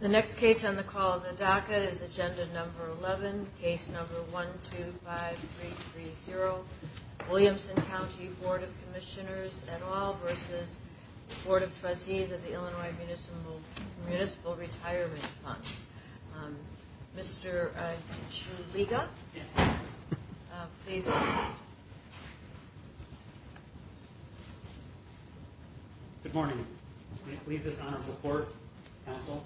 The next case on the call of the DACA is Agenda Number 11, Case Number 125330, Williamson County Board of Commissioners et al. v. Board of Trustees of the Illinois Municipal Retirement Fund. Mr. Chuliga, please. Good morning. May it please this Honorable Court, Counsel.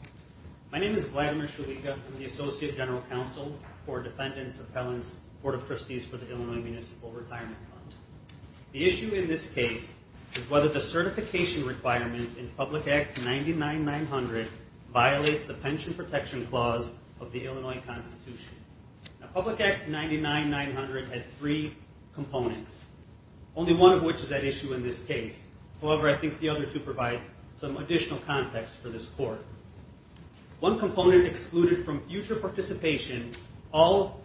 My name is Vladimir Chuliga. I'm the Associate General Counsel for Defendants, Appellants, Board of Trustees for the Illinois Municipal Retirement Fund. The issue in this case is whether the certification requirement in Public Act 99-900 violates the Pension Protection Clause of the Illinois Constitution. Public Act 99-900 had three components, only one of which is at issue in this case. However, I think the other two provide some additional context for this Court. One component excluded from future participation all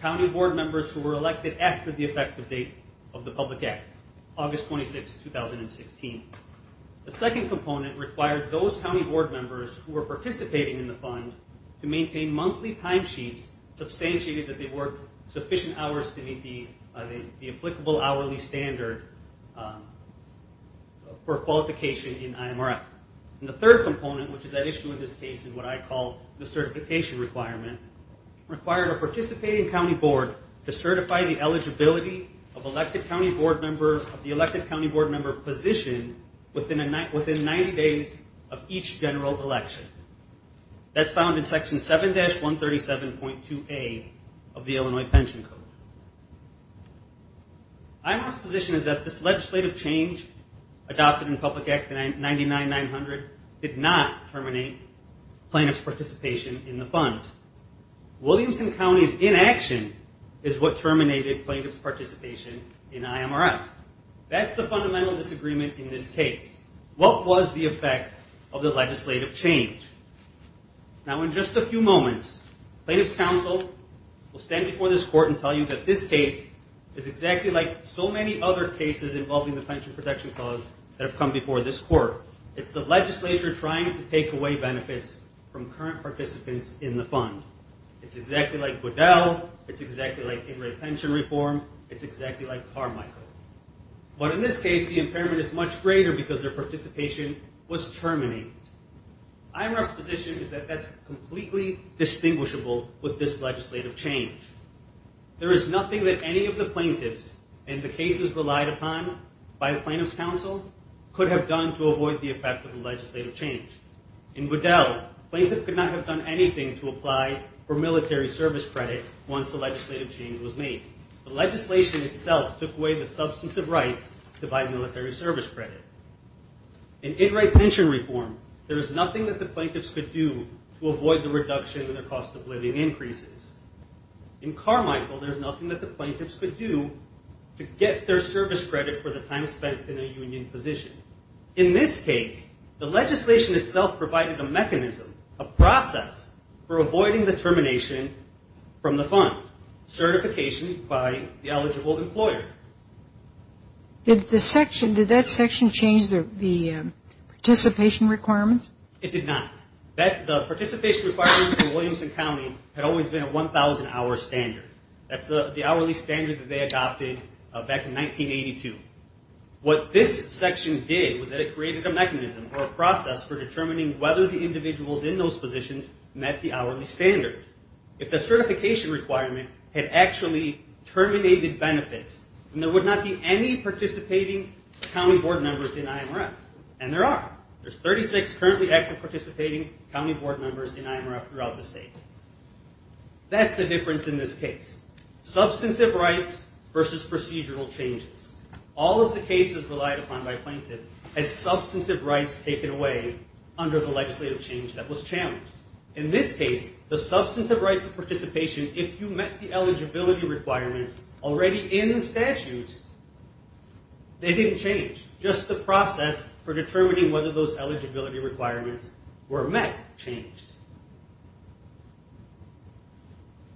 County Board members who were elected after the effective date of the Public Act, August 26, 2016. The second component required those County Board members who were participating in the fund to maintain monthly timesheets substantiated that they worked sufficient hours to meet the applicable hourly standard for qualification in IMRF. And the third component, which is at issue in this case, is what I call the certification requirement, required a participating County Board to certify the eligibility of elected County Board members of the elected County Board member position within 90 days of each general election. That's found in Section 7-137.2A of the Illinois Pension Code. IMRF's position is that this legislative change adopted in Public Act 99-900 did not terminate plaintiff's participation in the fund. Williamson County's inaction is what terminated plaintiff's participation in IMRF. That's the fundamental disagreement in this case. What was the effect of the legislative change? Now, in just a few moments, plaintiff's counsel will stand before this Court and tell you that this case is exactly like so many other cases involving the pension protection clause that have come before this Court. It's the legislature trying to take away benefits from current participants in the fund. It's exactly like Goodell. It's exactly like pension reform. It's exactly like Carmichael. But in this case, the impairment is much greater because their participation was terminated. IMRF's position is that that's completely distinguishable with this legislative change. There is nothing that any of the plaintiffs and the cases relied upon by the plaintiff's counsel could have done to avoid the effect of the legislative change. In Goodell, plaintiff could not have done anything to apply for military service credit once the legislative change was made. The legislation itself took away the substantive rights to buy military service credit. In in-right pension reform, there is nothing that the plaintiffs could do to avoid the reduction in their cost of living increases. In Carmichael, there is nothing that the plaintiffs could do to get their service credit for the time spent in a union position. In this case, the legislation itself provided a mechanism, a process, for avoiding the termination from the fund, certification by the eligible employer. Did the section, did that section change the participation requirements? It did not. The participation requirements for Williamson County had always been a 1,000-hour standard. That's the hourly standard that they adopted back in 1982. What this section did was that it created a mechanism or a process for determining whether the individuals in those positions met the hourly standard. If the certification requirement had actually terminated benefits, then there would not be any participating county board members in IMRF. And there are. There's 36 currently active participating county board members in IMRF throughout the state. That's the difference in this case. Substantive rights versus procedural changes. All of the cases relied upon by plaintiffs had substantive rights taken away under the legislative change that was challenged. In this case, the substantive rights of participation, if you met the eligibility requirements already in the statute, they didn't change. Just the process for determining whether those eligibility requirements were met changed.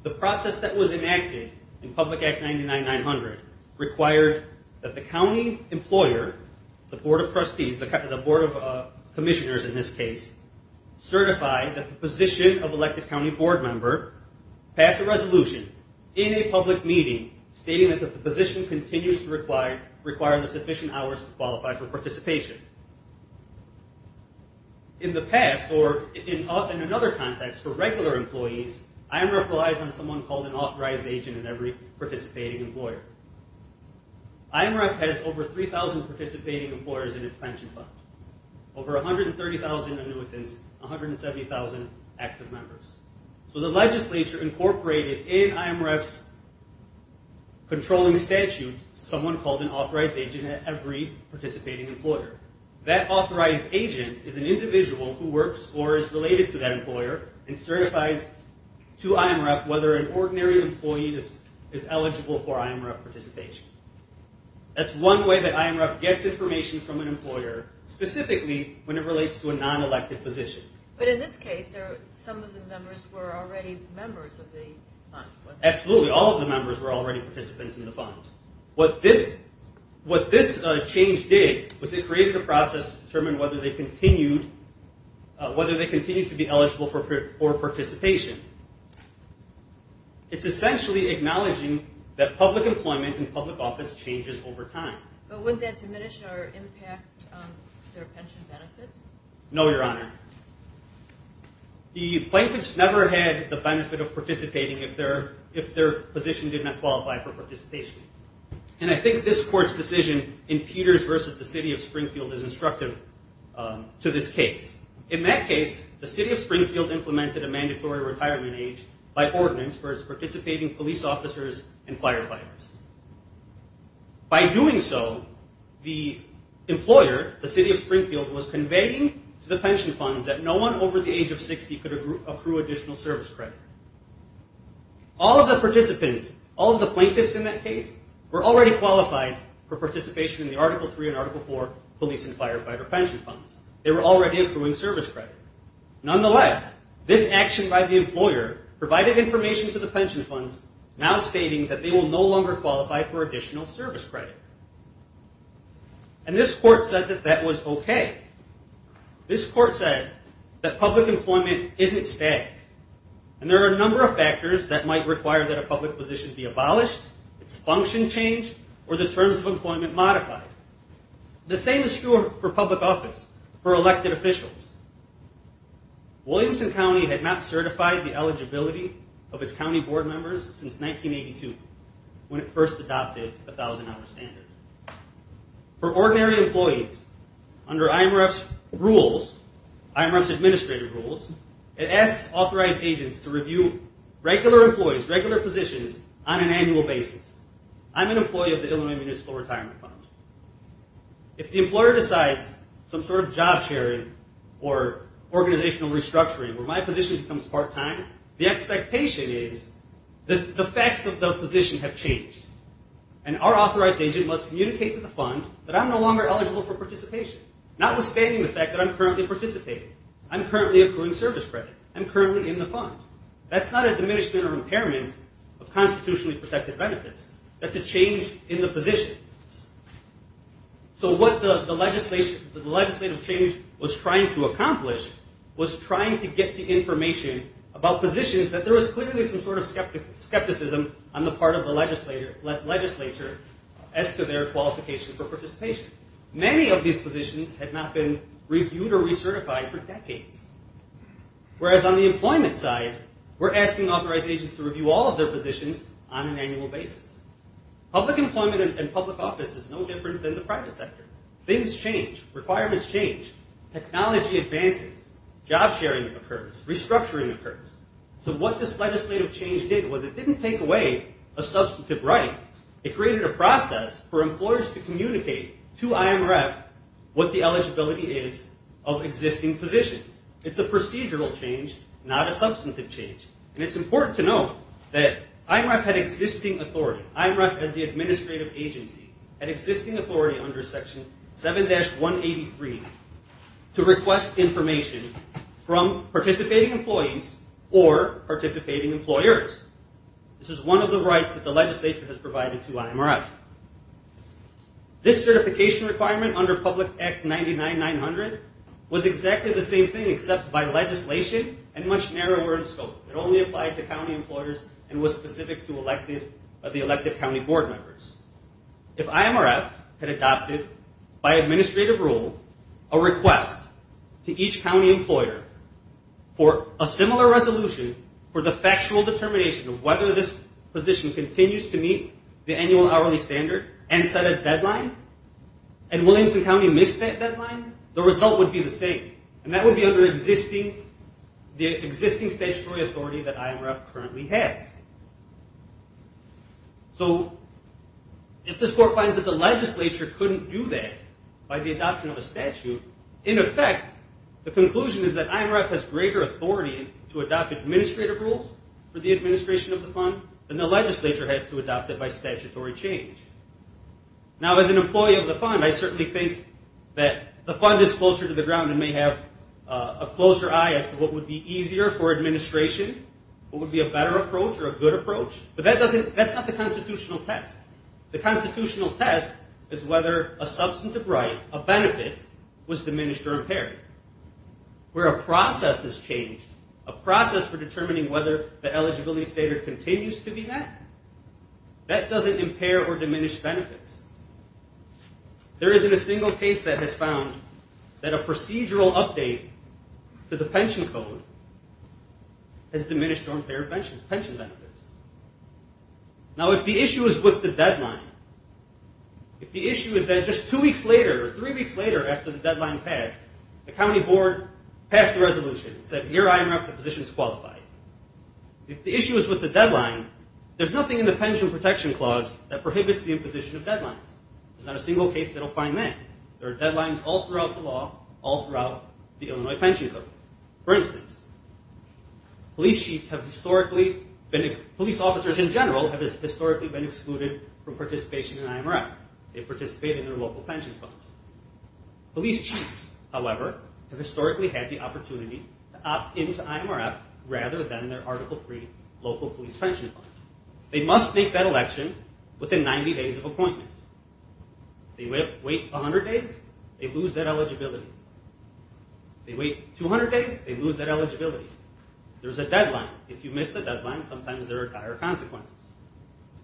The process that was enacted in Public Act 99-900 required that the county employer, the board of trustees, the board of commissioners in this case, certify that the position of elected county board member pass a resolution in a public meeting stating that the position continues to require the sufficient hours to qualify for participation. In the past, or in another context, for regular employees, IMRF relies on someone called an authorized agent in every participating employer. IMRF has over 3,000 participating employers in its pension fund. Over 130,000 annuitants, 170,000 active members. So the legislature incorporated in IMRF's controlling statute someone called an authorized agent at every participating employer. That authorized agent is an individual who works or is related to that employer and certifies to IMRF whether an ordinary employee is eligible for IMRF participation. That's one way that IMRF gets information from an employer, specifically when it relates to a non-elected position. But in this case, some of the members were already members of the fund. Absolutely. All of the members were already participants in the fund. What this change did was it created a process to determine whether they continued to be eligible for participation. It's essentially acknowledging that public employment and public office changes over time. But wouldn't that diminish our impact on their pension benefits? No, Your Honor. The plaintiffs never had the benefit of participating if their position did not qualify for participation. And I think this court's decision in Peters v. The City of Springfield is instructive to this case. In that case, The City of Springfield implemented a mandatory retirement age by ordinance for its participating police officers and firefighters. By doing so, the employer, The City of Springfield, was conveying to the pension funds that no one over the age of 60 could accrue additional service credit. All of the participants, all of the plaintiffs in that case, were already qualified for participation in the Article 3 and Article 4 police and firefighter pension funds. They were already accruing service credit. Nonetheless, this action by the employer provided information to the pension funds now stating that they will no longer qualify for additional service credit. And this court said that that was okay. This court said that public employment isn't static. And there are a number of factors that might require that a public position be abolished, its function changed, or the terms of employment modified. The same is true for public office, for elected officials. Williamson County had not certified the eligibility of its county board members since 1982, when it first adopted the 1,000-hour standard. For ordinary employees, under IMRF's rules, IMRF's administrative rules, it asks authorized agents to review regular employees, regular positions, on an annual basis. I'm an employee of the Illinois Municipal Retirement Fund. If the employer decides some sort of job sharing or organizational restructuring where my position becomes part-time, the expectation is that the facts of the position have changed. And our authorized agent must communicate to the fund that I'm no longer eligible for participation, notwithstanding the fact that I'm currently participating. I'm currently accruing service credit. I'm currently in the fund. That's not a diminishment or impairment of constitutionally protected benefits. That's a change in the position. So what the legislative change was trying to accomplish was trying to get the information about positions that there was clearly some sort of skepticism on the part of the legislature as to their qualification for participation. Many of these positions had not been reviewed or recertified for decades. Whereas on the employment side, we're asking authorized agents to review all of their positions on an annual basis. Public employment and public office is no different than the private sector. Things change. Requirements change. Technology advances. Job sharing occurs. Restructuring occurs. So what this legislative change did was it didn't take away a substantive right. It created a process for employers to communicate to IMRF what the eligibility is of existing positions. It's a procedural change, not a substantive change. And it's important to note that IMRF had existing authority. IMRF as the administrative agency had existing authority under Section 7-183 to request information from participating employees or participating employers. This is one of the rights that the legislature has provided to IMRF. This certification requirement under Public Act 99-900 was exactly the same thing except by legislation and much narrower in scope. It only applied to county employers and was specific to the elected county board members. If IMRF had adopted by administrative rule a request to each county employer for a similar resolution for the factual determination of whether this position continues to meet the annual hourly standard and set a deadline, and Williamson County missed that deadline, the result would be the same. And that would be under the existing statutory authority that IMRF currently has. So if this court finds that the legislature couldn't do that by the adoption of a statute, in effect, the conclusion is that IMRF has greater authority to adopt administrative rules for the administration of the fund than the legislature has to adopt it by statutory change. Now, as an employee of the fund, I certainly think that the fund is closer to the ground and may have a closer eye as to what would be easier for administration, what would be a better approach or a good approach, but that's not the constitutional test. The constitutional test is whether a substantive right, a benefit, was diminished or impaired. Where a process has changed, a process for determining whether the eligibility standard continues to be met, that doesn't impair or diminish benefits. There isn't a single case that has found that a procedural update to the pension code has diminished or impaired pension benefits. Now, if the issue is with the deadline, if the issue is that just two weeks later or three weeks later after the deadline passed, the county board passed the resolution and said, here, IMRF, the position is qualified. If the issue is with the deadline, there's nothing in the pension protection clause that prohibits the imposition of deadlines. There's not a single case that will find that. There are deadlines all throughout the law, all throughout the Illinois pension code. For instance, police chiefs have historically been, police officers in general have historically been excluded from participation in IMRF. They participate in their local pension funds. Police chiefs, however, have historically had the opportunity to opt into IMRF rather than their Article III local police pension fund. They must make that election within 90 days of appointment. They wait 100 days, they lose that eligibility. They wait 200 days, they lose that eligibility. There's a deadline. If you miss the deadline, sometimes there are dire consequences.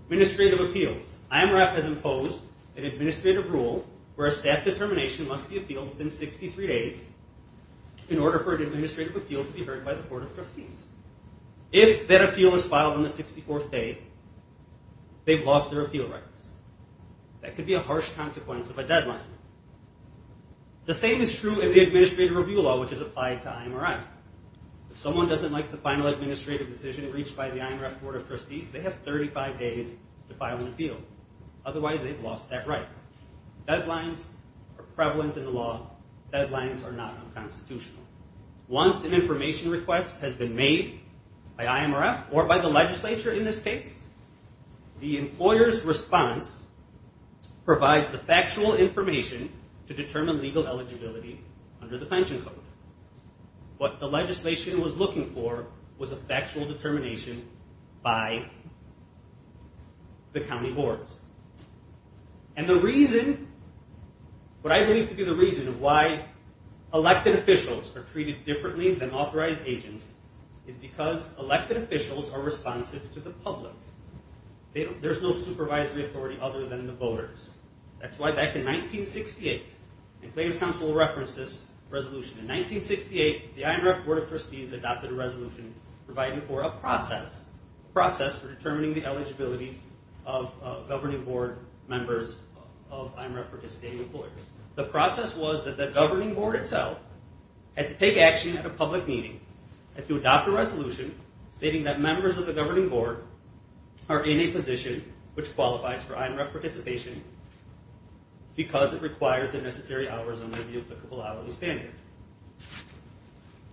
Administrative appeals. IMRF has imposed an administrative rule where a staff determination must be appealed within 63 days in order for an administrative appeal to be heard by the board of trustees. If that appeal is filed on the 64th day, they've lost their appeal rights. That could be a harsh consequence of a deadline. The same is true in the administrative review law, which is applied to IMRF. If someone doesn't like the final administrative decision reached by the IMRF board of trustees, they have 35 days to file an appeal. Otherwise, they've lost that right. Deadlines are prevalent in the law. Deadlines are not unconstitutional. Once an information request has been made by IMRF or by the legislature in this case, the employer's response provides the factual information to determine legal eligibility under the pension code. What the legislation was looking for was a factual determination by the county boards. And the reason, what I believe to be the reason why elected officials are treated differently than authorized agents is because elected officials are responsive to the public. There's no supervisory authority other than the voters. That's why back in 1968, and Clayton's counsel will reference this resolution, in 1968, the IMRF board of trustees adopted a resolution providing for a process, a process for determining the eligibility of governing board members of IMRF participating employers. The process was that the governing board itself had to take action at a public meeting, had to adopt a resolution stating that members of the governing board are in a position which qualifies for IMRF participation because it requires the necessary hours under the applicable hourly standard.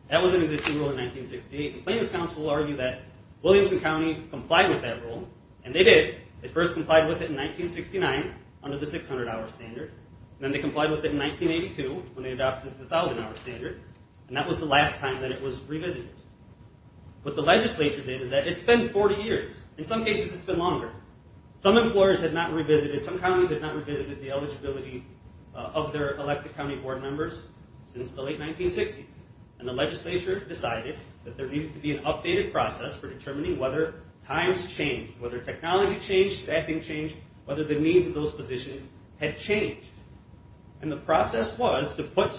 That was an existing rule in 1968, and Clayton's counsel argued that Williamson County complied with that rule, and they did. They first complied with it in 1969 under the 600-hour standard, and then they complied with it in 1982 when they adopted the 1,000-hour standard, and that was the last time that it was revisited. What the legislature did is that it's been 40 years. In some cases, it's been longer. Some employers have not revisited, some counties have not revisited the eligibility of their elected county board members since the late 1960s, and the legislature decided that there needed to be an updated process for determining whether times change, whether technology change, staffing change, whether the means of those positions had changed, and the process was to put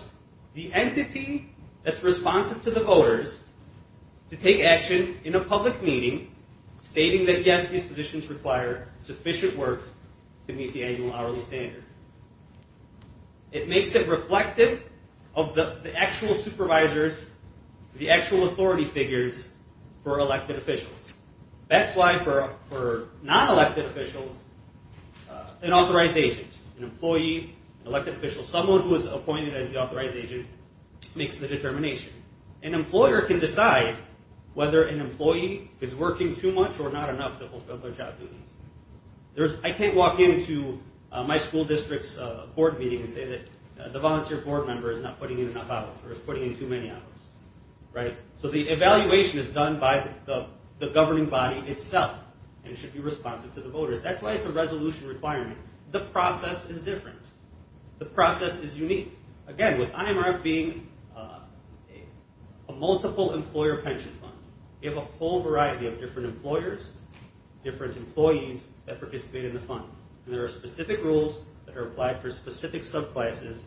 the entity that's responsive to the voters to take action in a public meeting stating that, yes, these positions require sufficient work to meet the annual hourly standard. It makes it reflective of the actual supervisors, the actual authority figures for elected officials. That's why for non-elected officials, an authorized agent, an employee, an elected official, someone who is appointed as the authorized agent makes the determination. An employer can decide whether an employee is working too much or not enough to fulfill their job duties. I can't walk into my school district's board meeting and say that the volunteer board member is not putting in enough hours or is putting in too many hours, right? So the evaluation is done by the governing body itself and should be responsive to the voters. That's why it's a resolution requirement. The process is different. The process is unique. Again, with IMRF being a multiple employer pension fund, you have a whole variety of different employers, different employees that participate in the fund, and there are specific rules that are applied for specific subclasses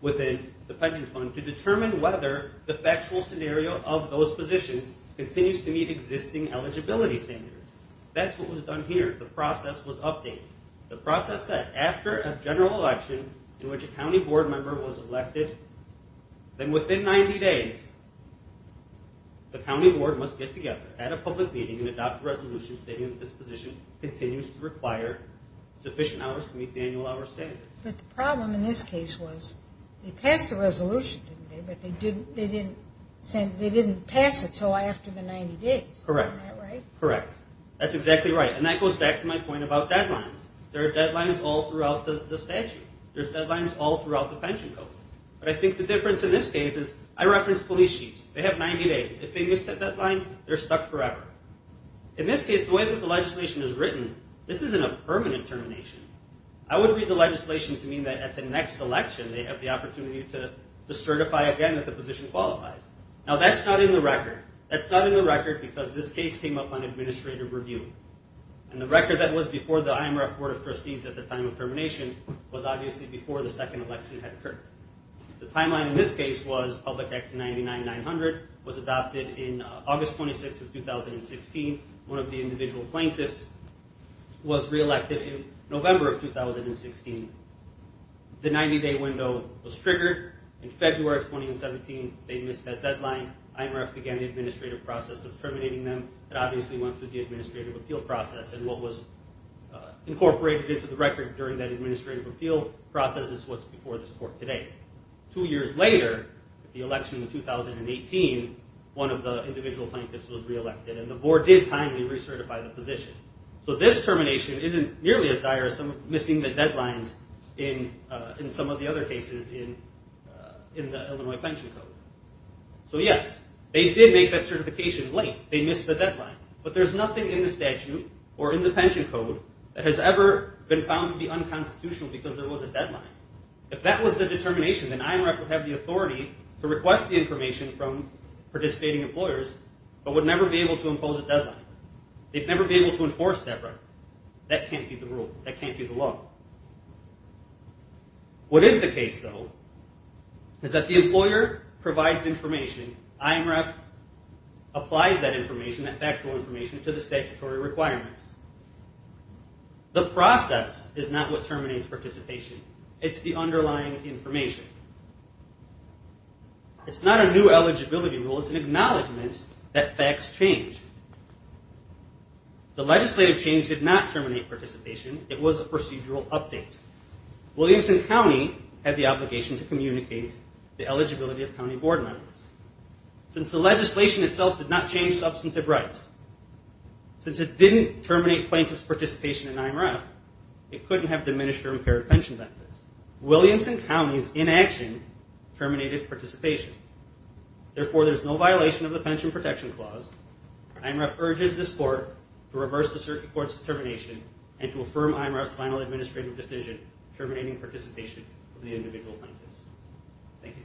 within the pension fund to determine whether the factual scenario of those positions continues to meet existing eligibility standards. That's what was done here. The process was updated. The process said after a general election in which a county board member was elected, then within 90 days the county board must get together at a public meeting and adopt a resolution stating that this position continues to require sufficient hours to meet the annual hourly standard. But the problem in this case was they passed the resolution, didn't they? But they didn't pass it until after the 90 days. Correct. Isn't that right? Correct. That's exactly right. And that goes back to my point about deadlines. There are deadlines all throughout the statute. There's deadlines all throughout the pension code. But I think the difference in this case is I referenced police chiefs. They have 90 days. If they miss that deadline, they're stuck forever. In this case, the way that the legislation is written, this isn't a permanent termination. I would read the legislation to mean that at the next election, they have the opportunity to certify again that the position qualifies. Now, that's not in the record. That's not in the record because this case came up on administrative review. And the record that was before the IMRF Board of Trustees at the time of termination was obviously before the second election had occurred. The timeline in this case was Public Act 99900 was adopted in August 26th of 2016. One of the individual plaintiffs was re-elected in November of 2016. The 90-day window was triggered. In February of 2017, they missed that deadline. IMRF began the administrative process of terminating them. It obviously went through the administrative appeal process. And what was incorporated into the record during that administrative appeal process is what's before this court today. Two years later, the election of 2018, one of the individual plaintiffs was re-elected. And the board did timely recertify the position. So this termination isn't nearly as dire as missing the deadlines in some of the other cases in the Illinois Pension Code. So, yes, they did make that certification late. They missed the deadline. But there's nothing in the statute or in the pension code that has ever been found to be unconstitutional because there was a deadline. If that was the determination, then IMRF would have the authority to request the information from participating employers but would never be able to impose a deadline. They'd never be able to enforce that record. That can't be the rule. That can't be the law. What is the case, though, is that the employer provides information. IMRF applies that information, that factual information, to the statutory requirements. The process is not what terminates participation. It's the underlying information. It's not a new eligibility rule. It's an acknowledgment that facts change. The legislative change did not terminate participation. It was a procedural update. Williamson County had the obligation to communicate the eligibility of county board members. Since the legislation itself did not change substantive rights, since it didn't terminate plaintiff's participation in IMRF, it couldn't have diminished or impaired pension benefits. Williamson County's inaction terminated participation. Therefore, there's no violation of the Pension Protection Clause. IMRF urges this court to reverse the circuit court's determination and to affirm IMRF's final administrative decision terminating participation of the individual plaintiffs. Thank you.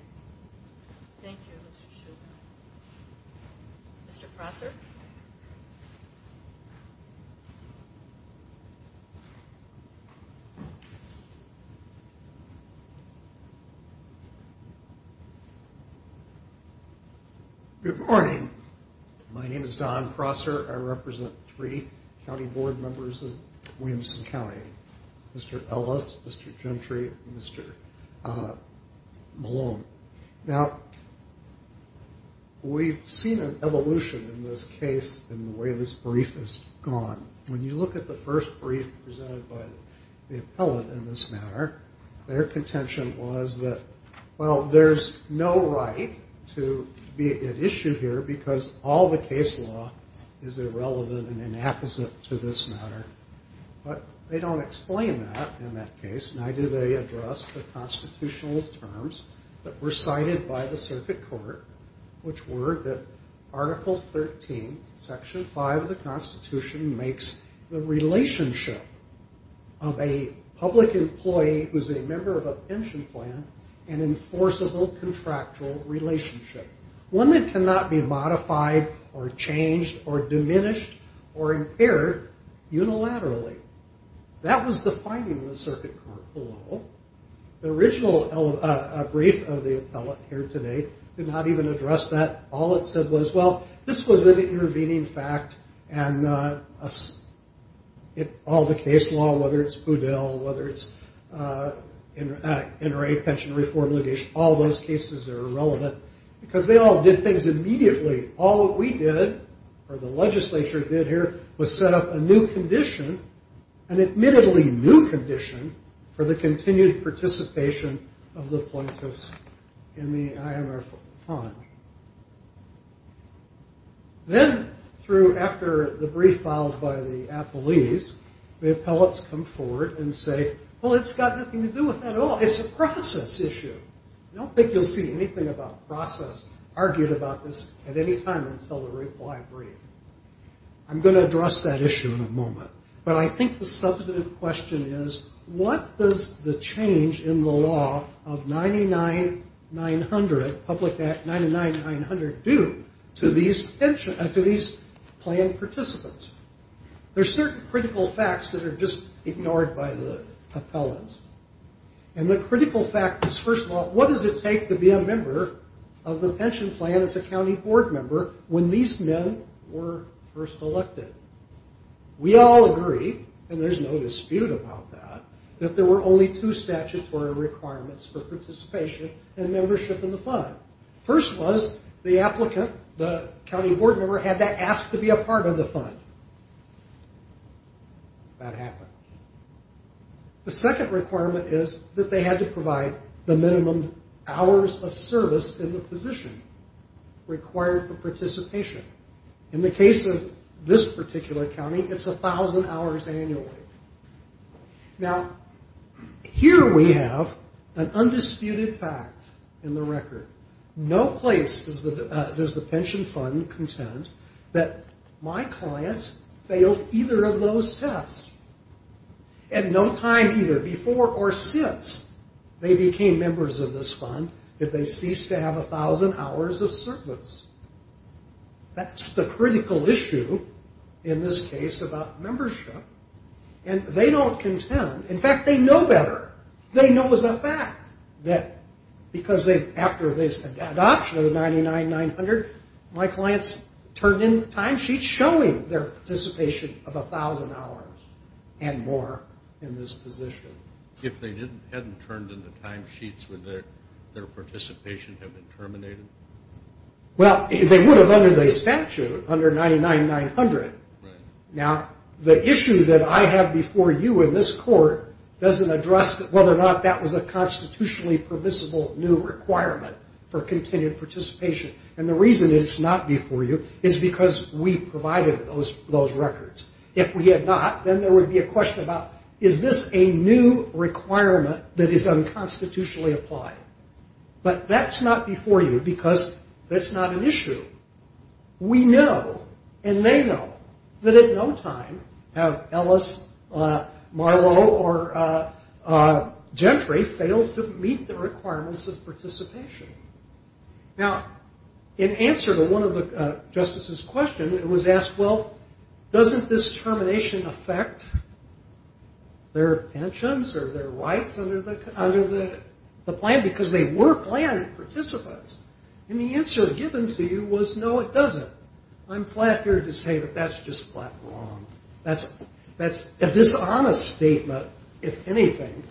Thank you, Mr. Shulman. Mr. Prosser? Good morning. My name is Don Prosser. I represent three county board members of Williamson County, Mr. Ellis, Mr. Gentry, and Mr. Malone. Now, we've seen an evolution in this case in the way this brief has gone. When you look at the first brief presented by the appellate in this matter, their contention was that, well, there's no right to be at issue here because all the case law is irrelevant and inapposite to this matter. But they don't explain that in that case, neither do they address the constitutional terms that were cited by the circuit court, which were that Article 13, Section 5 of the Constitution, makes the relationship of a public employee who's a member of a pension plan an enforceable contractual relationship, one that cannot be modified or changed or diminished or impaired unilaterally. That was the finding of the circuit court below. The original brief of the appellate here today did not even address that. All it said was, well, this was an intervening fact, and all the case law, whether it's Poudel, whether it's NRA pension reform, all those cases are irrelevant because they all did things immediately. All that we did, or the legislature did here, was set up a new condition, an admittedly new condition, for the continued participation of the plaintiffs in the IMR fund. Then, after the brief followed by the appellees, the appellates come forward and say, well, it's got nothing to do with that at all. It's a process issue. I don't think you'll see anything about process argued about this at any time until the reply brief. I'm going to address that issue in a moment. But I think the substantive question is, what does the change in the law of 99-900, Public Act 99-900, do to these plan participants? There are certain critical facts that are just ignored by the appellates. And the critical fact is, first of all, what does it take to be a member of the pension plan as a county board member when these men were first elected? We all agree, and there's no dispute about that, that there were only two statutory requirements for participation and membership in the fund. First was the applicant, the county board member, had to ask to be a part of the fund. That happened. The second requirement is that they had to provide the minimum hours of service in the position required for participation. In the case of this particular county, it's 1,000 hours annually. Now, here we have an undisputed fact in the record. No place does the pension fund contend that my clients failed either of those tests. At no time either, before or since they became members of this fund, did they cease to have 1,000 hours of service. That's the critical issue in this case about membership. And they don't contend. In fact, they know better. They know as a fact that because after this adoption of the 99-900, my clients turned in timesheets showing their participation of 1,000 hours and more in this position. If they hadn't turned in the timesheets, would their participation have been terminated? Well, they would have under the statute, under 99-900. Now, the issue that I have before you in this court doesn't address whether or not that was a constitutionally permissible new requirement for continued participation. And the reason it's not before you is because we provided those records. If we had not, then there would be a question about, is this a new requirement that is unconstitutionally applied? But that's not before you because that's not an issue. We know and they know that at no time have Ellis, Marlowe, or Gentry failed to meet the requirements of participation. Now, in answer to one of the justices' questions, it was asked, well, doesn't this termination affect their pensions or their rights under the plan? Because they were planned participants. And the answer given to you was, no, it doesn't. I'm flat-eared to say that that's just flat wrong. That's a dishonest statement, if anything,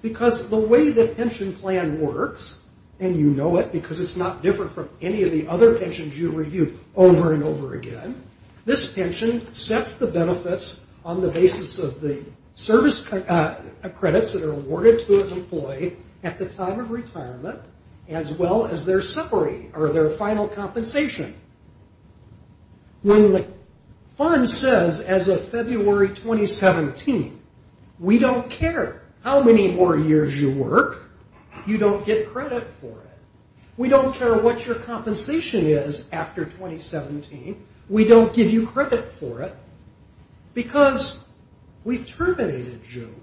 because the way the pension plan works, and you know it because it's not different from any of the other pensions you review over and over again, this pension sets the benefits on the basis of the service credits that are awarded to an employee at the time of retirement, as well as their summary or their final compensation. When the fund says, as of February 2017, we don't care how many more years you work, you don't get credit for it. We don't care what your compensation is after 2017. We don't give you credit for it because we've terminated you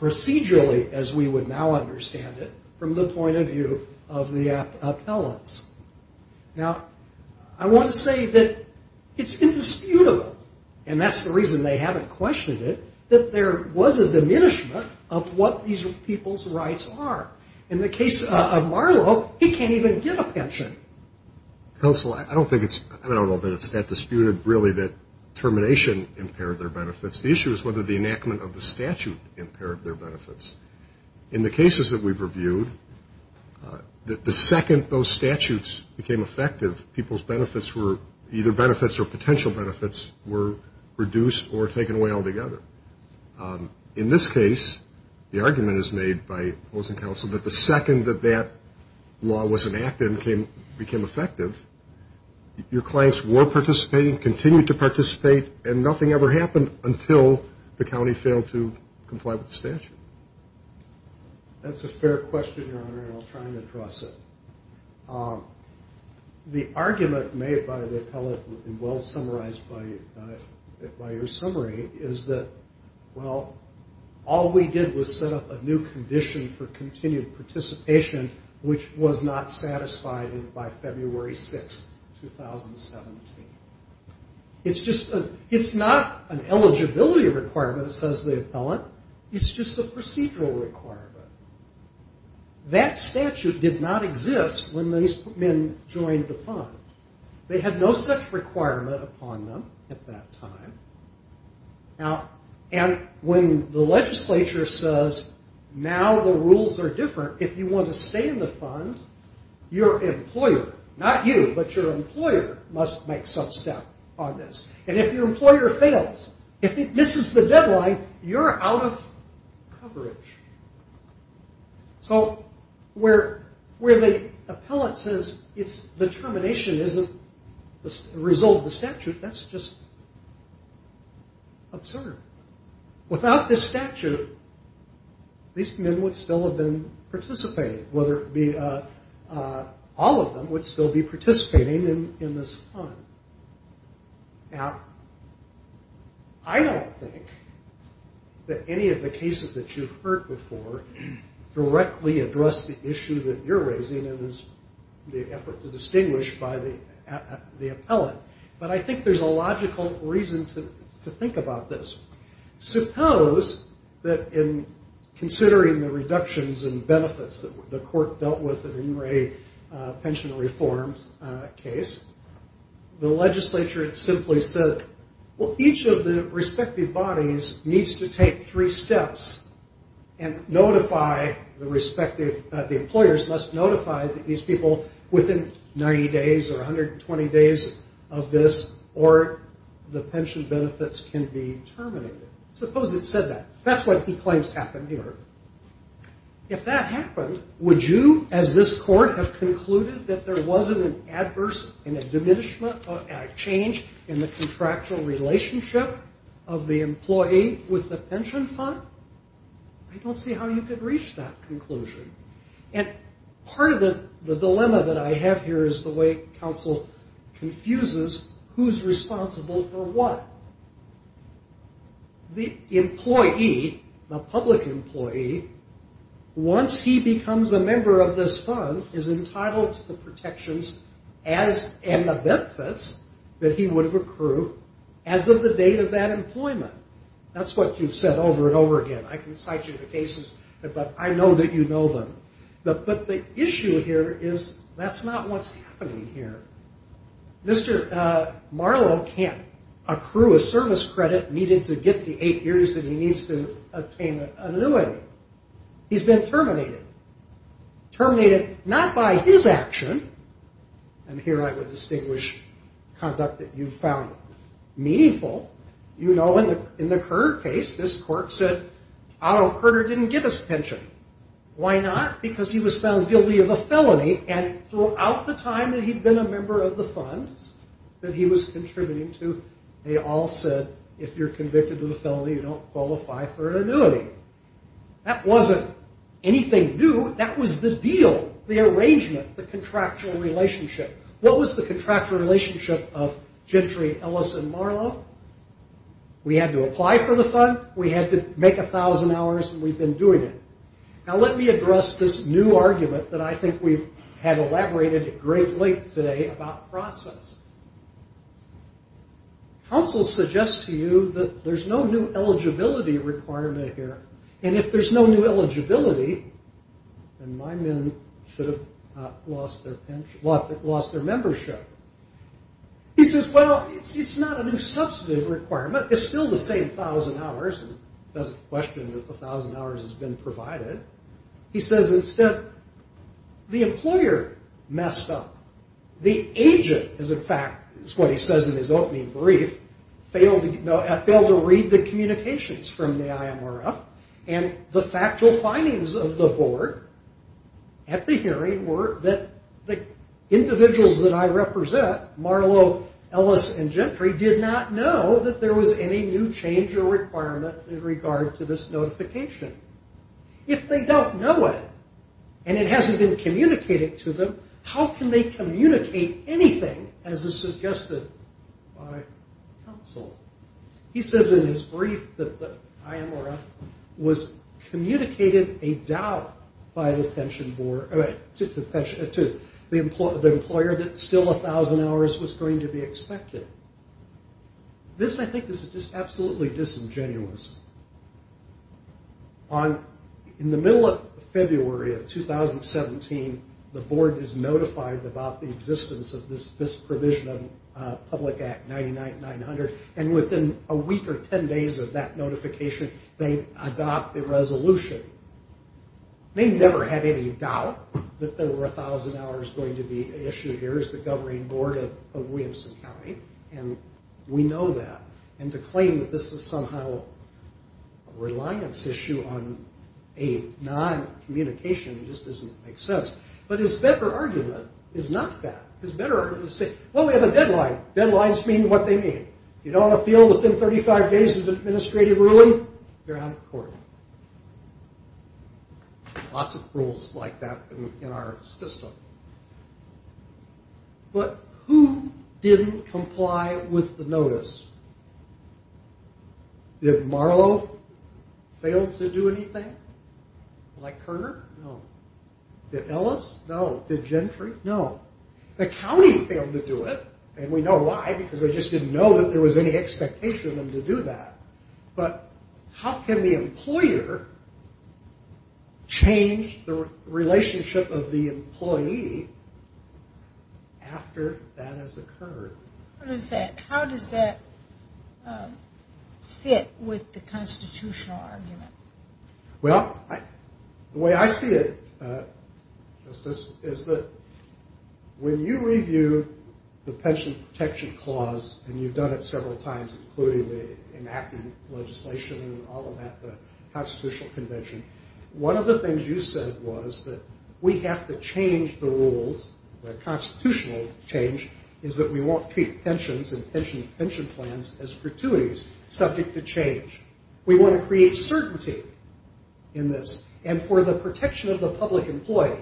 procedurally, as we would now understand it, from the point of view of the appellants. Now, I want to say that it's indisputable, and that's the reason they haven't questioned it, that there was a diminishment of what these people's rights are. In the case of Marlowe, he can't even get a pension. Counsel, I don't know that it's that disputed, really, that termination impaired their benefits. The issue is whether the enactment of the statute impaired their benefits. In the cases that we've reviewed, the second those statutes became effective, people's benefits were either benefits or potential benefits were reduced or taken away altogether. In this case, the argument is made by those in counsel that the second that that law was enacted and became effective, your clients were participating, continued to participate, and nothing ever happened until the county failed to comply with the statute. That's a fair question, Your Honor, and I'll try and address it. The argument made by the appellant, and well summarized by your summary, is that, well, all we did was set up a new condition for continued participation, which was not satisfied by February 6, 2017. It's not an eligibility requirement, says the appellant. It's just a procedural requirement. That statute did not exist when these men joined the fund. They had no such requirement upon them at that time. And when the legislature says, now the rules are different, if you want to stay in the fund, your employer, not you, but your employer, must make some step on this. And if your employer fails, if it misses the deadline, you're out of coverage. So where the appellant says the termination isn't the result of the statute, that's just absurd. Without this statute, these men would still have been participating, all of them would still be participating in this fund. Now, I don't think that any of the cases that you've heard before directly address the issue that you're raising in the effort to distinguish by the appellant. But I think there's a logical reason to think about this. Suppose that in considering the reductions and benefits that the court dealt with in the Ingray pension reform case, the legislature simply said, well, each of the respective bodies needs to take three steps and notify the respective, the employers must notify these people within 90 days or 120 days of this, or the pension benefits can be terminated. Suppose it said that. That's what he claims happened here. If that happened, would you, as this court, have concluded that there wasn't an adverse and a diminishment or a change in the contractual relationship of the employee with the pension fund? I don't see how you could reach that conclusion. And part of the dilemma that I have here is the way counsel confuses who's responsible for what. The employee, the public employee, once he becomes a member of this fund, is entitled to the protections and the benefits that he would have accrued as of the date of that employment. That's what you've said over and over again. I can cite you to cases, but I know that you know them. But the issue here is that's not what's happening here. Mr. Marlow can't accrue a service credit needed to get the eight years that he needs to obtain a new one. He's been terminated. Terminated not by his action, and here I would distinguish conduct that you found meaningful. You know in the Kerr case, this court said, Otto Kerr didn't get his pension. Why not? Because he was found guilty of a felony, and throughout the time that he'd been a member of the funds that he was contributing to, they all said if you're convicted of a felony, you don't qualify for an annuity. That wasn't anything new. That was the deal, the arrangement, the contractual relationship. What was the contractual relationship of Gentry, Ellis, and Marlow? We had to apply for the fund. We had to make 1,000 hours, and we've been doing it. Now let me address this new argument that I think we've had elaborated at great length today about process. Counsel suggests to you that there's no new eligibility requirement here, and if there's no new eligibility, then my men should have lost their membership. He says, well, it's not a new substantive requirement. It's still the same 1,000 hours. He doesn't question if the 1,000 hours has been provided. He says, instead, the employer messed up. The agent, in fact, is what he says in his opening brief, failed to read the communications from the IMRF, and the factual findings of the board at the hearing were that the individuals that I represent, Marlow, Ellis, and Gentry did not know that there was any new change or requirement in regard to this notification. If they don't know it, and it hasn't been communicated to them, how can they communicate anything as is suggested by counsel? He says in his brief that the IMRF was communicated a doubt by the pension board, to the employer that still 1,000 hours was going to be expected. This, I think, is just absolutely disingenuous. In the middle of February of 2017, the board is notified about the existence of this provision of Public Act 99900, and within a week or 10 days of that notification, they adopt the resolution. They never had any doubt that there were 1,000 hours going to be issued. Here is the governing board of Williamson County, and we know that. And to claim that this is somehow a reliance issue on a non-communication just doesn't make sense. But his better argument is not that. His better argument is to say, well, we have a deadline. Deadlines mean what they mean. If you don't want to fill within 35 days of the administrative ruling, you're out of court. Lots of rules like that in our system. But who didn't comply with the notice? Did Marlow fail to do anything? Like Kerner? No. Did Ellis? No. Did Gentry? No. The county failed to do it, and we know why, because they just didn't know that there was any expectation of them to do that. But how can the employer change the relationship of the employee after that has occurred? How does that fit with the constitutional argument? Well, the way I see it, Justice, is that when you review the pension protection clause, and you've done it several times, including the enacting legislation and all of that, the Constitutional Convention, one of the things you said was that we have to change the rules, the constitutional change, is that we won't treat pensions and pension plans as gratuities subject to change. We want to create certainty in this. And for the protection of the public employee,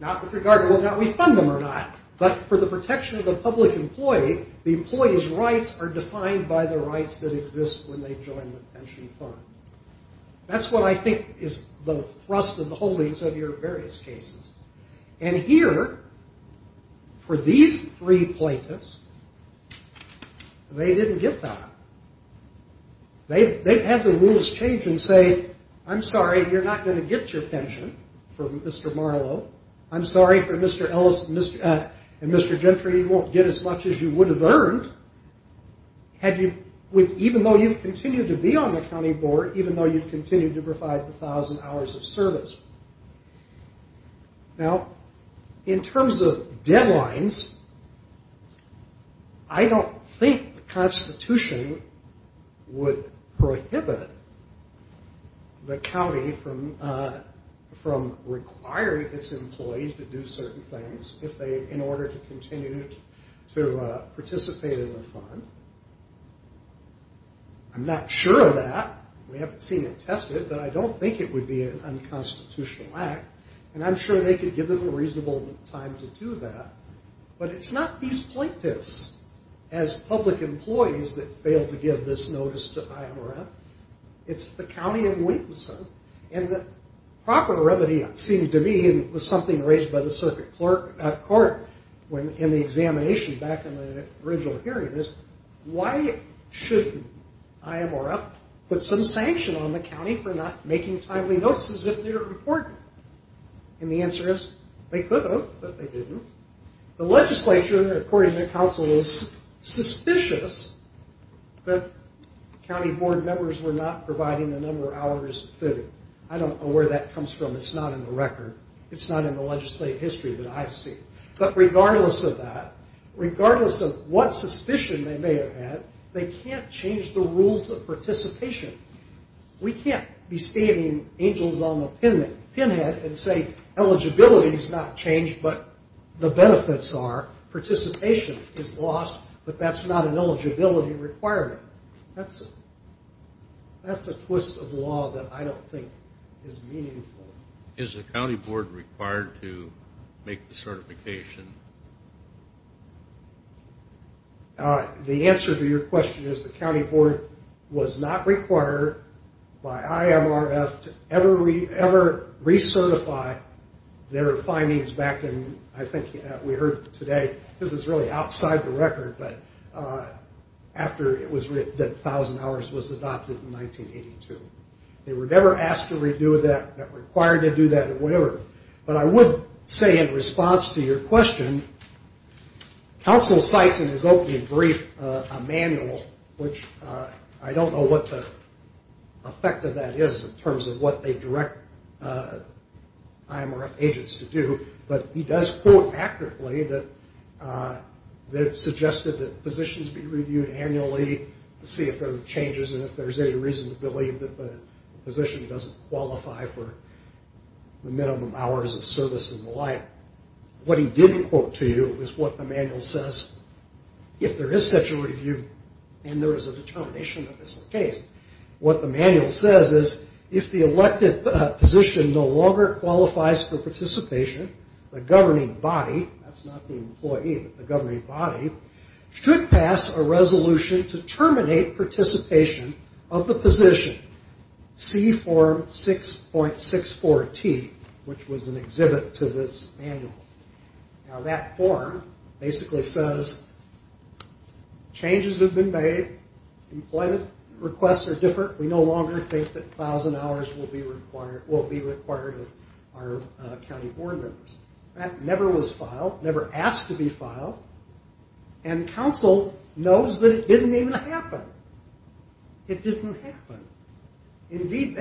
not with regard to whether or not we fund them or not, but for the protection of the public employee, the employee's rights are defined by the rights that exist when they join the pension fund. That's what I think is the thrust of the holdings of your various cases. And here, for these three plaintiffs, they didn't get that. They've had the rules change and say, I'm sorry, you're not going to get your pension from Mr. Marlow. I'm sorry for Mr. Ellis and Mr. Gentry. You won't get as much as you would have earned, even though you've continued to be on the county board, even though you've continued to provide 1,000 hours of service. Now, in terms of deadlines, I don't think the Constitution would prohibit the county from requiring its employees to do certain things in order to continue to participate in the fund. I'm not sure of that. We haven't seen it tested, but I don't think it would be an unconstitutional act. And I'm sure they could give them a reasonable time to do that. But it's not these plaintiffs as public employees that fail to give this notice to IMRF. It's the county of Williamson. And the proper remedy, it seems to me, was something raised by the circuit court in the examination back in the original hearing, is why shouldn't IMRF put some sanction on the county for not making timely notices if they're important? And the answer is they could have, but they didn't. The legislature, according to counsel, is suspicious that county board members were not providing the number of hours fitted. I don't know where that comes from. It's not in the record. It's not in the legislative history that I've seen. But regardless of that, regardless of what suspicion they may have had, they can't change the rules of participation. We can't be standing angels on a pinhead and say eligibility's not changed, but the benefits are. Participation is lost, but that's not an eligibility requirement. That's a twist of law that I don't think is meaningful. Is the county board required to make the certification? The answer to your question is the county board was not required by IMRF to ever recertify their findings back in, I think, we heard today. This is really outside the record, but after it was written that 1,000 hours was adopted in 1982. They were never asked to redo that, not required to do that, or whatever. But I would say in response to your question, counsel cites in his opening brief a manual, which I don't know what the effect of that is in terms of what they direct IMRF agents to do, but he does quote accurately that it suggested that positions be reviewed annually to see if there are changes and if there's any reason to believe that the position doesn't qualify for the minimum hours of service and the like. What he didn't quote to you is what the manual says. If there is such a review and there is a determination that it's the case, what the manual says is if the elected position no longer qualifies for participation, the governing body, that's not the employee, but the governing body, should pass a resolution to terminate participation of the position. See form 6.64T, which was an exhibit to this manual. Now that form basically says changes have been made. Employment requests are different. We no longer think that 1,000 hours will be required of our county board members. That never was filed, never asked to be filed, and counsel knows that it didn't even happen. It didn't happen. Indeed,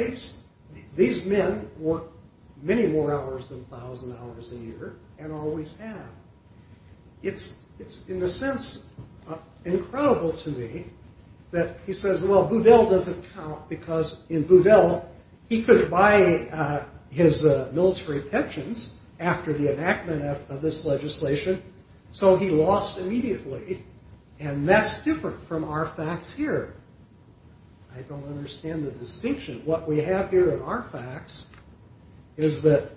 these men work many more hours than 1,000 hours a year and always have. It's in a sense incredible to me that he says, well, Boudel doesn't count, because in Boudel he could buy his military pensions after the enactment of this legislation, so he lost immediately, and that's different from our facts here. I don't understand the distinction. What we have here in our facts is that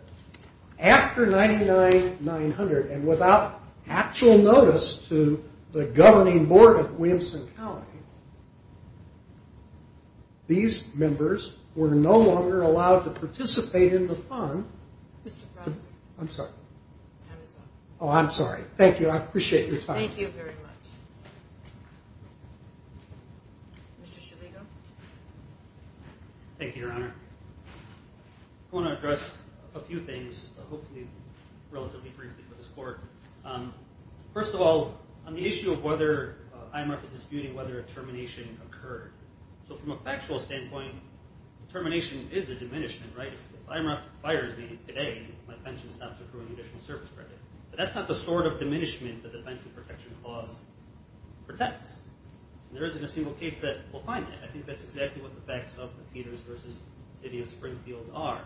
after 99-900 and without actual notice to the governing board of Williamson County, these members were no longer allowed to participate in the fund. I'm sorry. Oh, I'm sorry. Thank you. I appreciate your time. Thank you very much. Mr. Schillegel. Thank you, Your Honor. I want to address a few things, hopefully relatively briefly, for this court. First of all, on the issue of whether IMRF is disputing whether a termination occurred. So from a factual standpoint, termination is a diminishment, right? If IMRF fires me today, my pension stops accruing additional service credit. But that's not the sort of diminishment that the Pension Protection Clause protects. There isn't a single case that will find that. I think that's exactly what the facts of Peters v. City of Springfield are.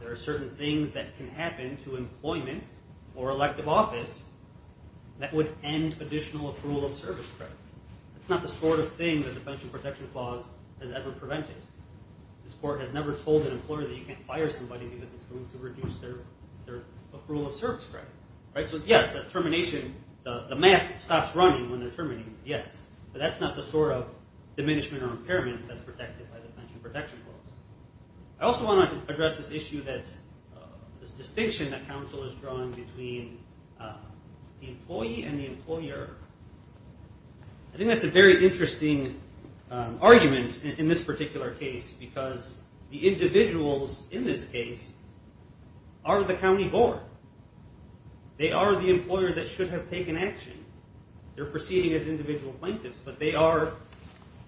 There are certain things that can happen to employment or elective office that would end additional accrual of service credit. That's not the sort of thing that the Pension Protection Clause has ever prevented. This court has never told an employer that you can't fire somebody because it's going to reduce their accrual of service credit. So yes, the math stops running when they're terminating, yes. But that's not the sort of diminishment or impairment that's protected by the Pension Protection Clause. I also want to address this issue, this distinction that counsel is drawing between the employee and the employer. I think that's a very interesting argument in this particular case because the individuals in this case are the county board. They are the employer that should have taken action. They're proceeding as individual plaintiffs, but they are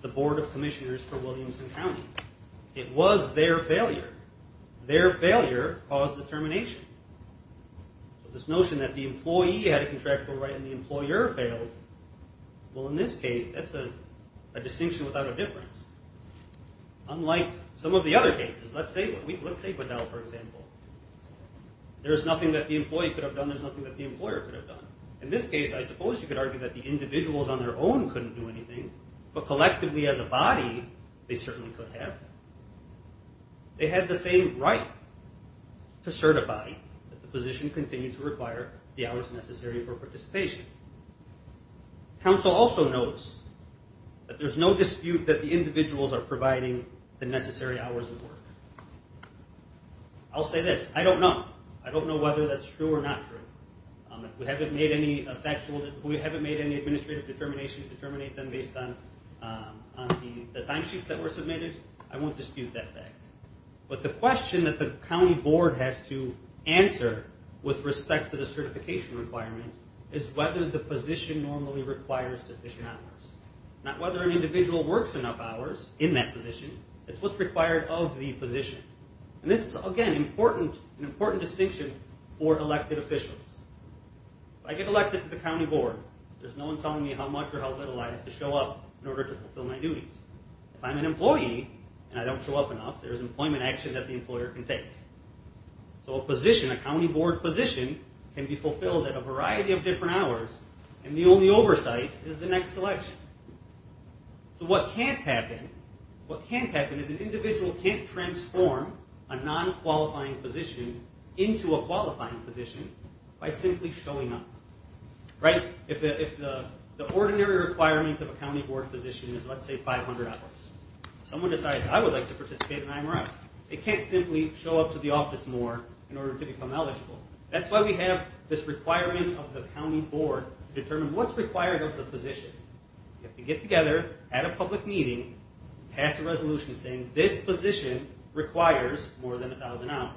the board of commissioners for Williamson County. It was their failure. Their failure caused the termination. This notion that the employee had a contractual right and the employer failed, well, in this case, that's a distinction without a difference. Unlike some of the other cases. Let's say, for example, there's nothing that the employee could have done, there's nothing that the employer could have done. In this case, I suppose you could argue that the individuals on their own couldn't do anything, but collectively as a body, they certainly could have. They had the same right to certify that the position continued to require the hours necessary for participation. Council also knows that there's no dispute that the individuals are providing the necessary hours of work. I'll say this, I don't know. I don't know whether that's true or not true. If we haven't made any administrative determinations to terminate them based on the timesheets that were submitted, I won't dispute that fact. But the question that the county board has to answer with respect to the certification requirement is whether the position normally requires sufficient hours. Not whether an individual works enough hours in that position, it's what's required of the position. And this is, again, an important distinction for elected officials. If I get elected to the county board, there's no one telling me how much or how little I have to show up in order to fulfill my duties. If I'm an employee and I don't show up enough, there's employment action that the employer can take. So a position, a county board position, can be fulfilled at a variety of different hours, and the only oversight is the next election. So what can't happen, what can't happen is an individual can't transform a non-qualifying position into a qualifying position by simply showing up. Right? If the ordinary requirement of a county board position is, let's say, 500 hours. Someone decides, I would like to participate in IMRI. They can't simply show up to the office more in order to become eligible. That's why we have this requirement of the county board to determine what's required of the position. You have to get together at a public meeting, pass a resolution saying, this position requires more than 1,000 hours.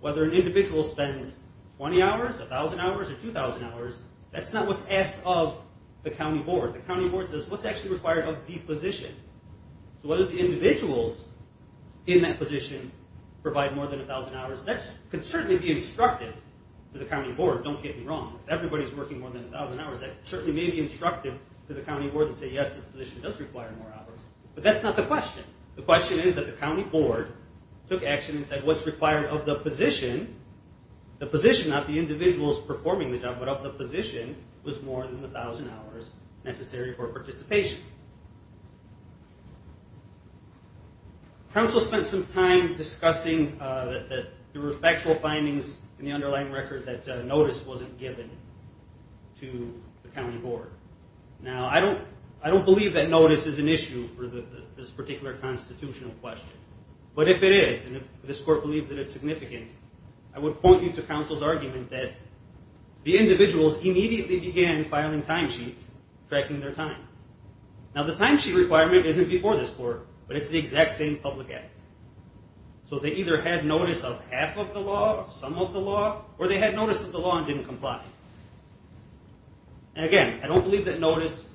Whether an individual spends 20 hours, 1,000 hours, or 2,000 hours, that's not what's asked of the county board. The county board says, what's actually required of the position? So whether the individuals in that position provide more than 1,000 hours, that could certainly be instructive to the county board. Don't get me wrong. If everybody's working more than 1,000 hours, that certainly may be instructive to the county board to say, yes, this position does require more hours. But that's not the question. The question is that the county board took action and said what's required of the position, the position, not the individuals performing the job, but of the position was more than 1,000 hours necessary for participation. Counsel spent some time discussing that there were factual findings in the underlying record that notice wasn't given to the county board. Now, I don't believe that notice is an issue for this particular constitutional question. But if it is, and if this court believes that it's significant, I would point you to counsel's argument that the individuals immediately began filing timesheets, tracking their time. Now, the timesheet requirement isn't before this court, but it's the exact same public act. So they either had notice of half of the law or some of the law, or they had notice of the law and didn't comply. And, again, I don't believe that notice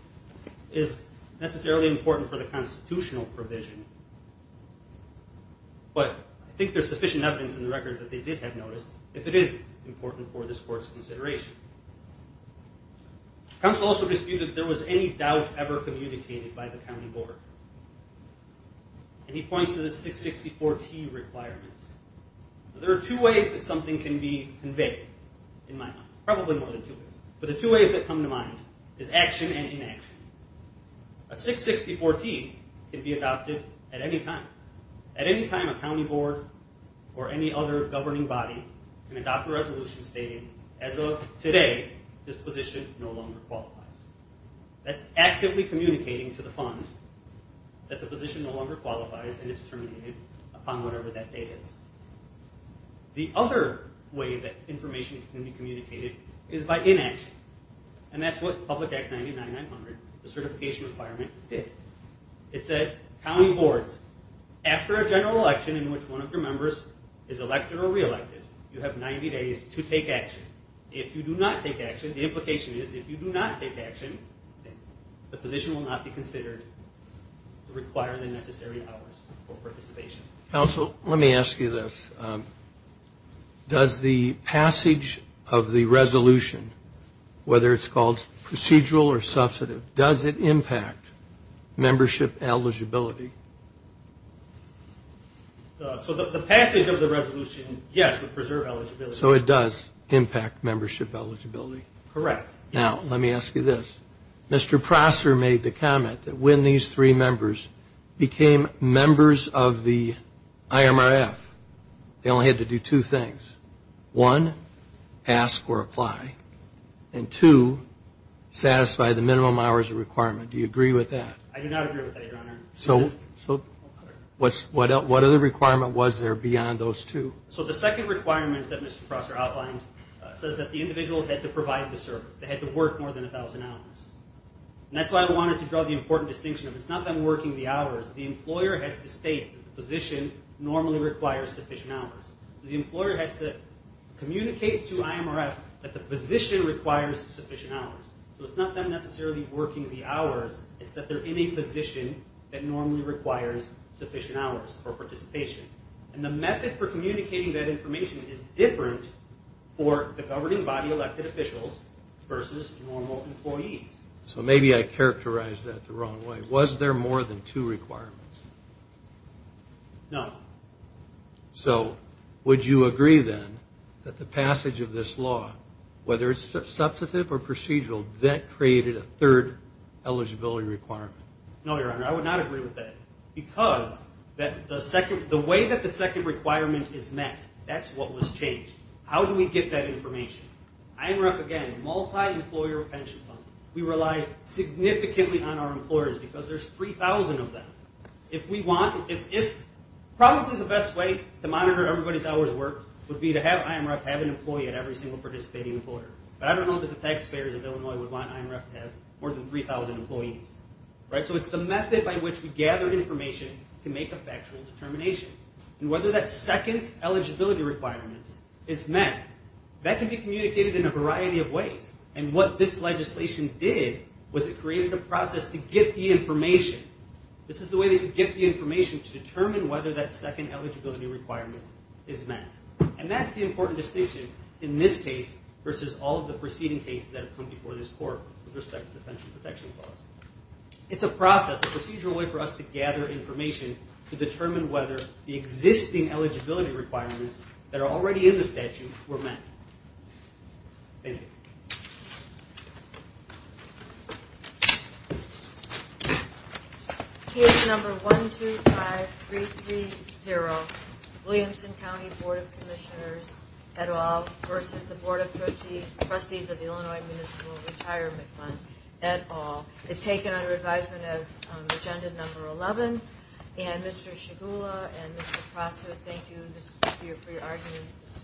is necessarily important for the constitutional provision. But I think there's sufficient evidence in the record that they did have notice if it is important for this court's consideration. Counsel also disputed that there was any doubt ever communicated by the county board. And he points to the 664T requirements. Now, there are two ways that something can be conveyed in my mind, probably more than two ways. But the two ways that come to mind is action and inaction. A 664T can be adopted at any time. At any time a county board or any other governing body can adopt a resolution stating, as of today, this position no longer qualifies. That's actively communicating to the fund that the position no longer qualifies and it's terminated upon whatever that date is. The other way that information can be communicated is by inaction. And that's what Public Act 99900, the certification requirement, did. It said, county boards, after a general election in which one of your members is elected or reelected, you have 90 days to take action. If you do not take action, the implication is if you do not take action, the position will not be considered to require the necessary hours for participation. Counsel, let me ask you this. Does the passage of the resolution, whether it's called procedural or substantive, does it impact membership eligibility? So the passage of the resolution, yes, would preserve eligibility. So it does impact membership eligibility? Correct. Now, let me ask you this. Mr. Prosser made the comment that when these three members became members of the IMRF, they only had to do two things. One, ask or apply. And two, satisfy the minimum hours requirement. Do you agree with that? I do not agree with that, Your Honor. So what other requirement was there beyond those two? So the second requirement that Mr. Prosser outlined says that the individuals had to provide the service. They had to work more than 1,000 hours. And that's why I wanted to draw the important distinction. It's not them working the hours. The employer has to state that the position normally requires sufficient hours. The employer has to communicate to IMRF that the position requires sufficient hours. So it's not them necessarily working the hours. It's that they're in a position that normally requires sufficient hours for participation. And the method for communicating that information is different for the governing body elected officials versus normal employees. So maybe I characterized that the wrong way. Was there more than two requirements? No. So would you agree, then, that the passage of this law, whether it's substantive or procedural, that created a third eligibility requirement? No, Your Honor. I would not agree with that because the way that the second requirement is met, that's what was changed. How do we get that information? IMRF, again, multi-employer pension fund. We rely significantly on our employers because there's 3,000 of them. Probably the best way to monitor everybody's hours worked would be to have IMRF have an employee at every single participating employer. But I don't know that the taxpayers of Illinois would want IMRF to have more than 3,000 employees. So it's the method by which we gather information to make a factual determination. And whether that second eligibility requirement is met, that can be communicated in a variety of ways. And what this legislation did was it created a process to get the information. This is the way that you get the information to determine whether that second eligibility requirement is met. And that's the important distinction in this case versus all of the preceding cases that have come before this court with respect to the pension protection clause. It's a process, a procedural way for us to gather information to determine whether the existing eligibility requirements that are already in the statute were met. Thank you. Case number 125330, Williamson County Board of Commissioners et al. versus the Board of Trustees of the Illinois Municipal Retirement Fund et al. is taken under advisement as agenda number 11. And Mr. Shigula and Mr. Crosswood, thank you for your arguments.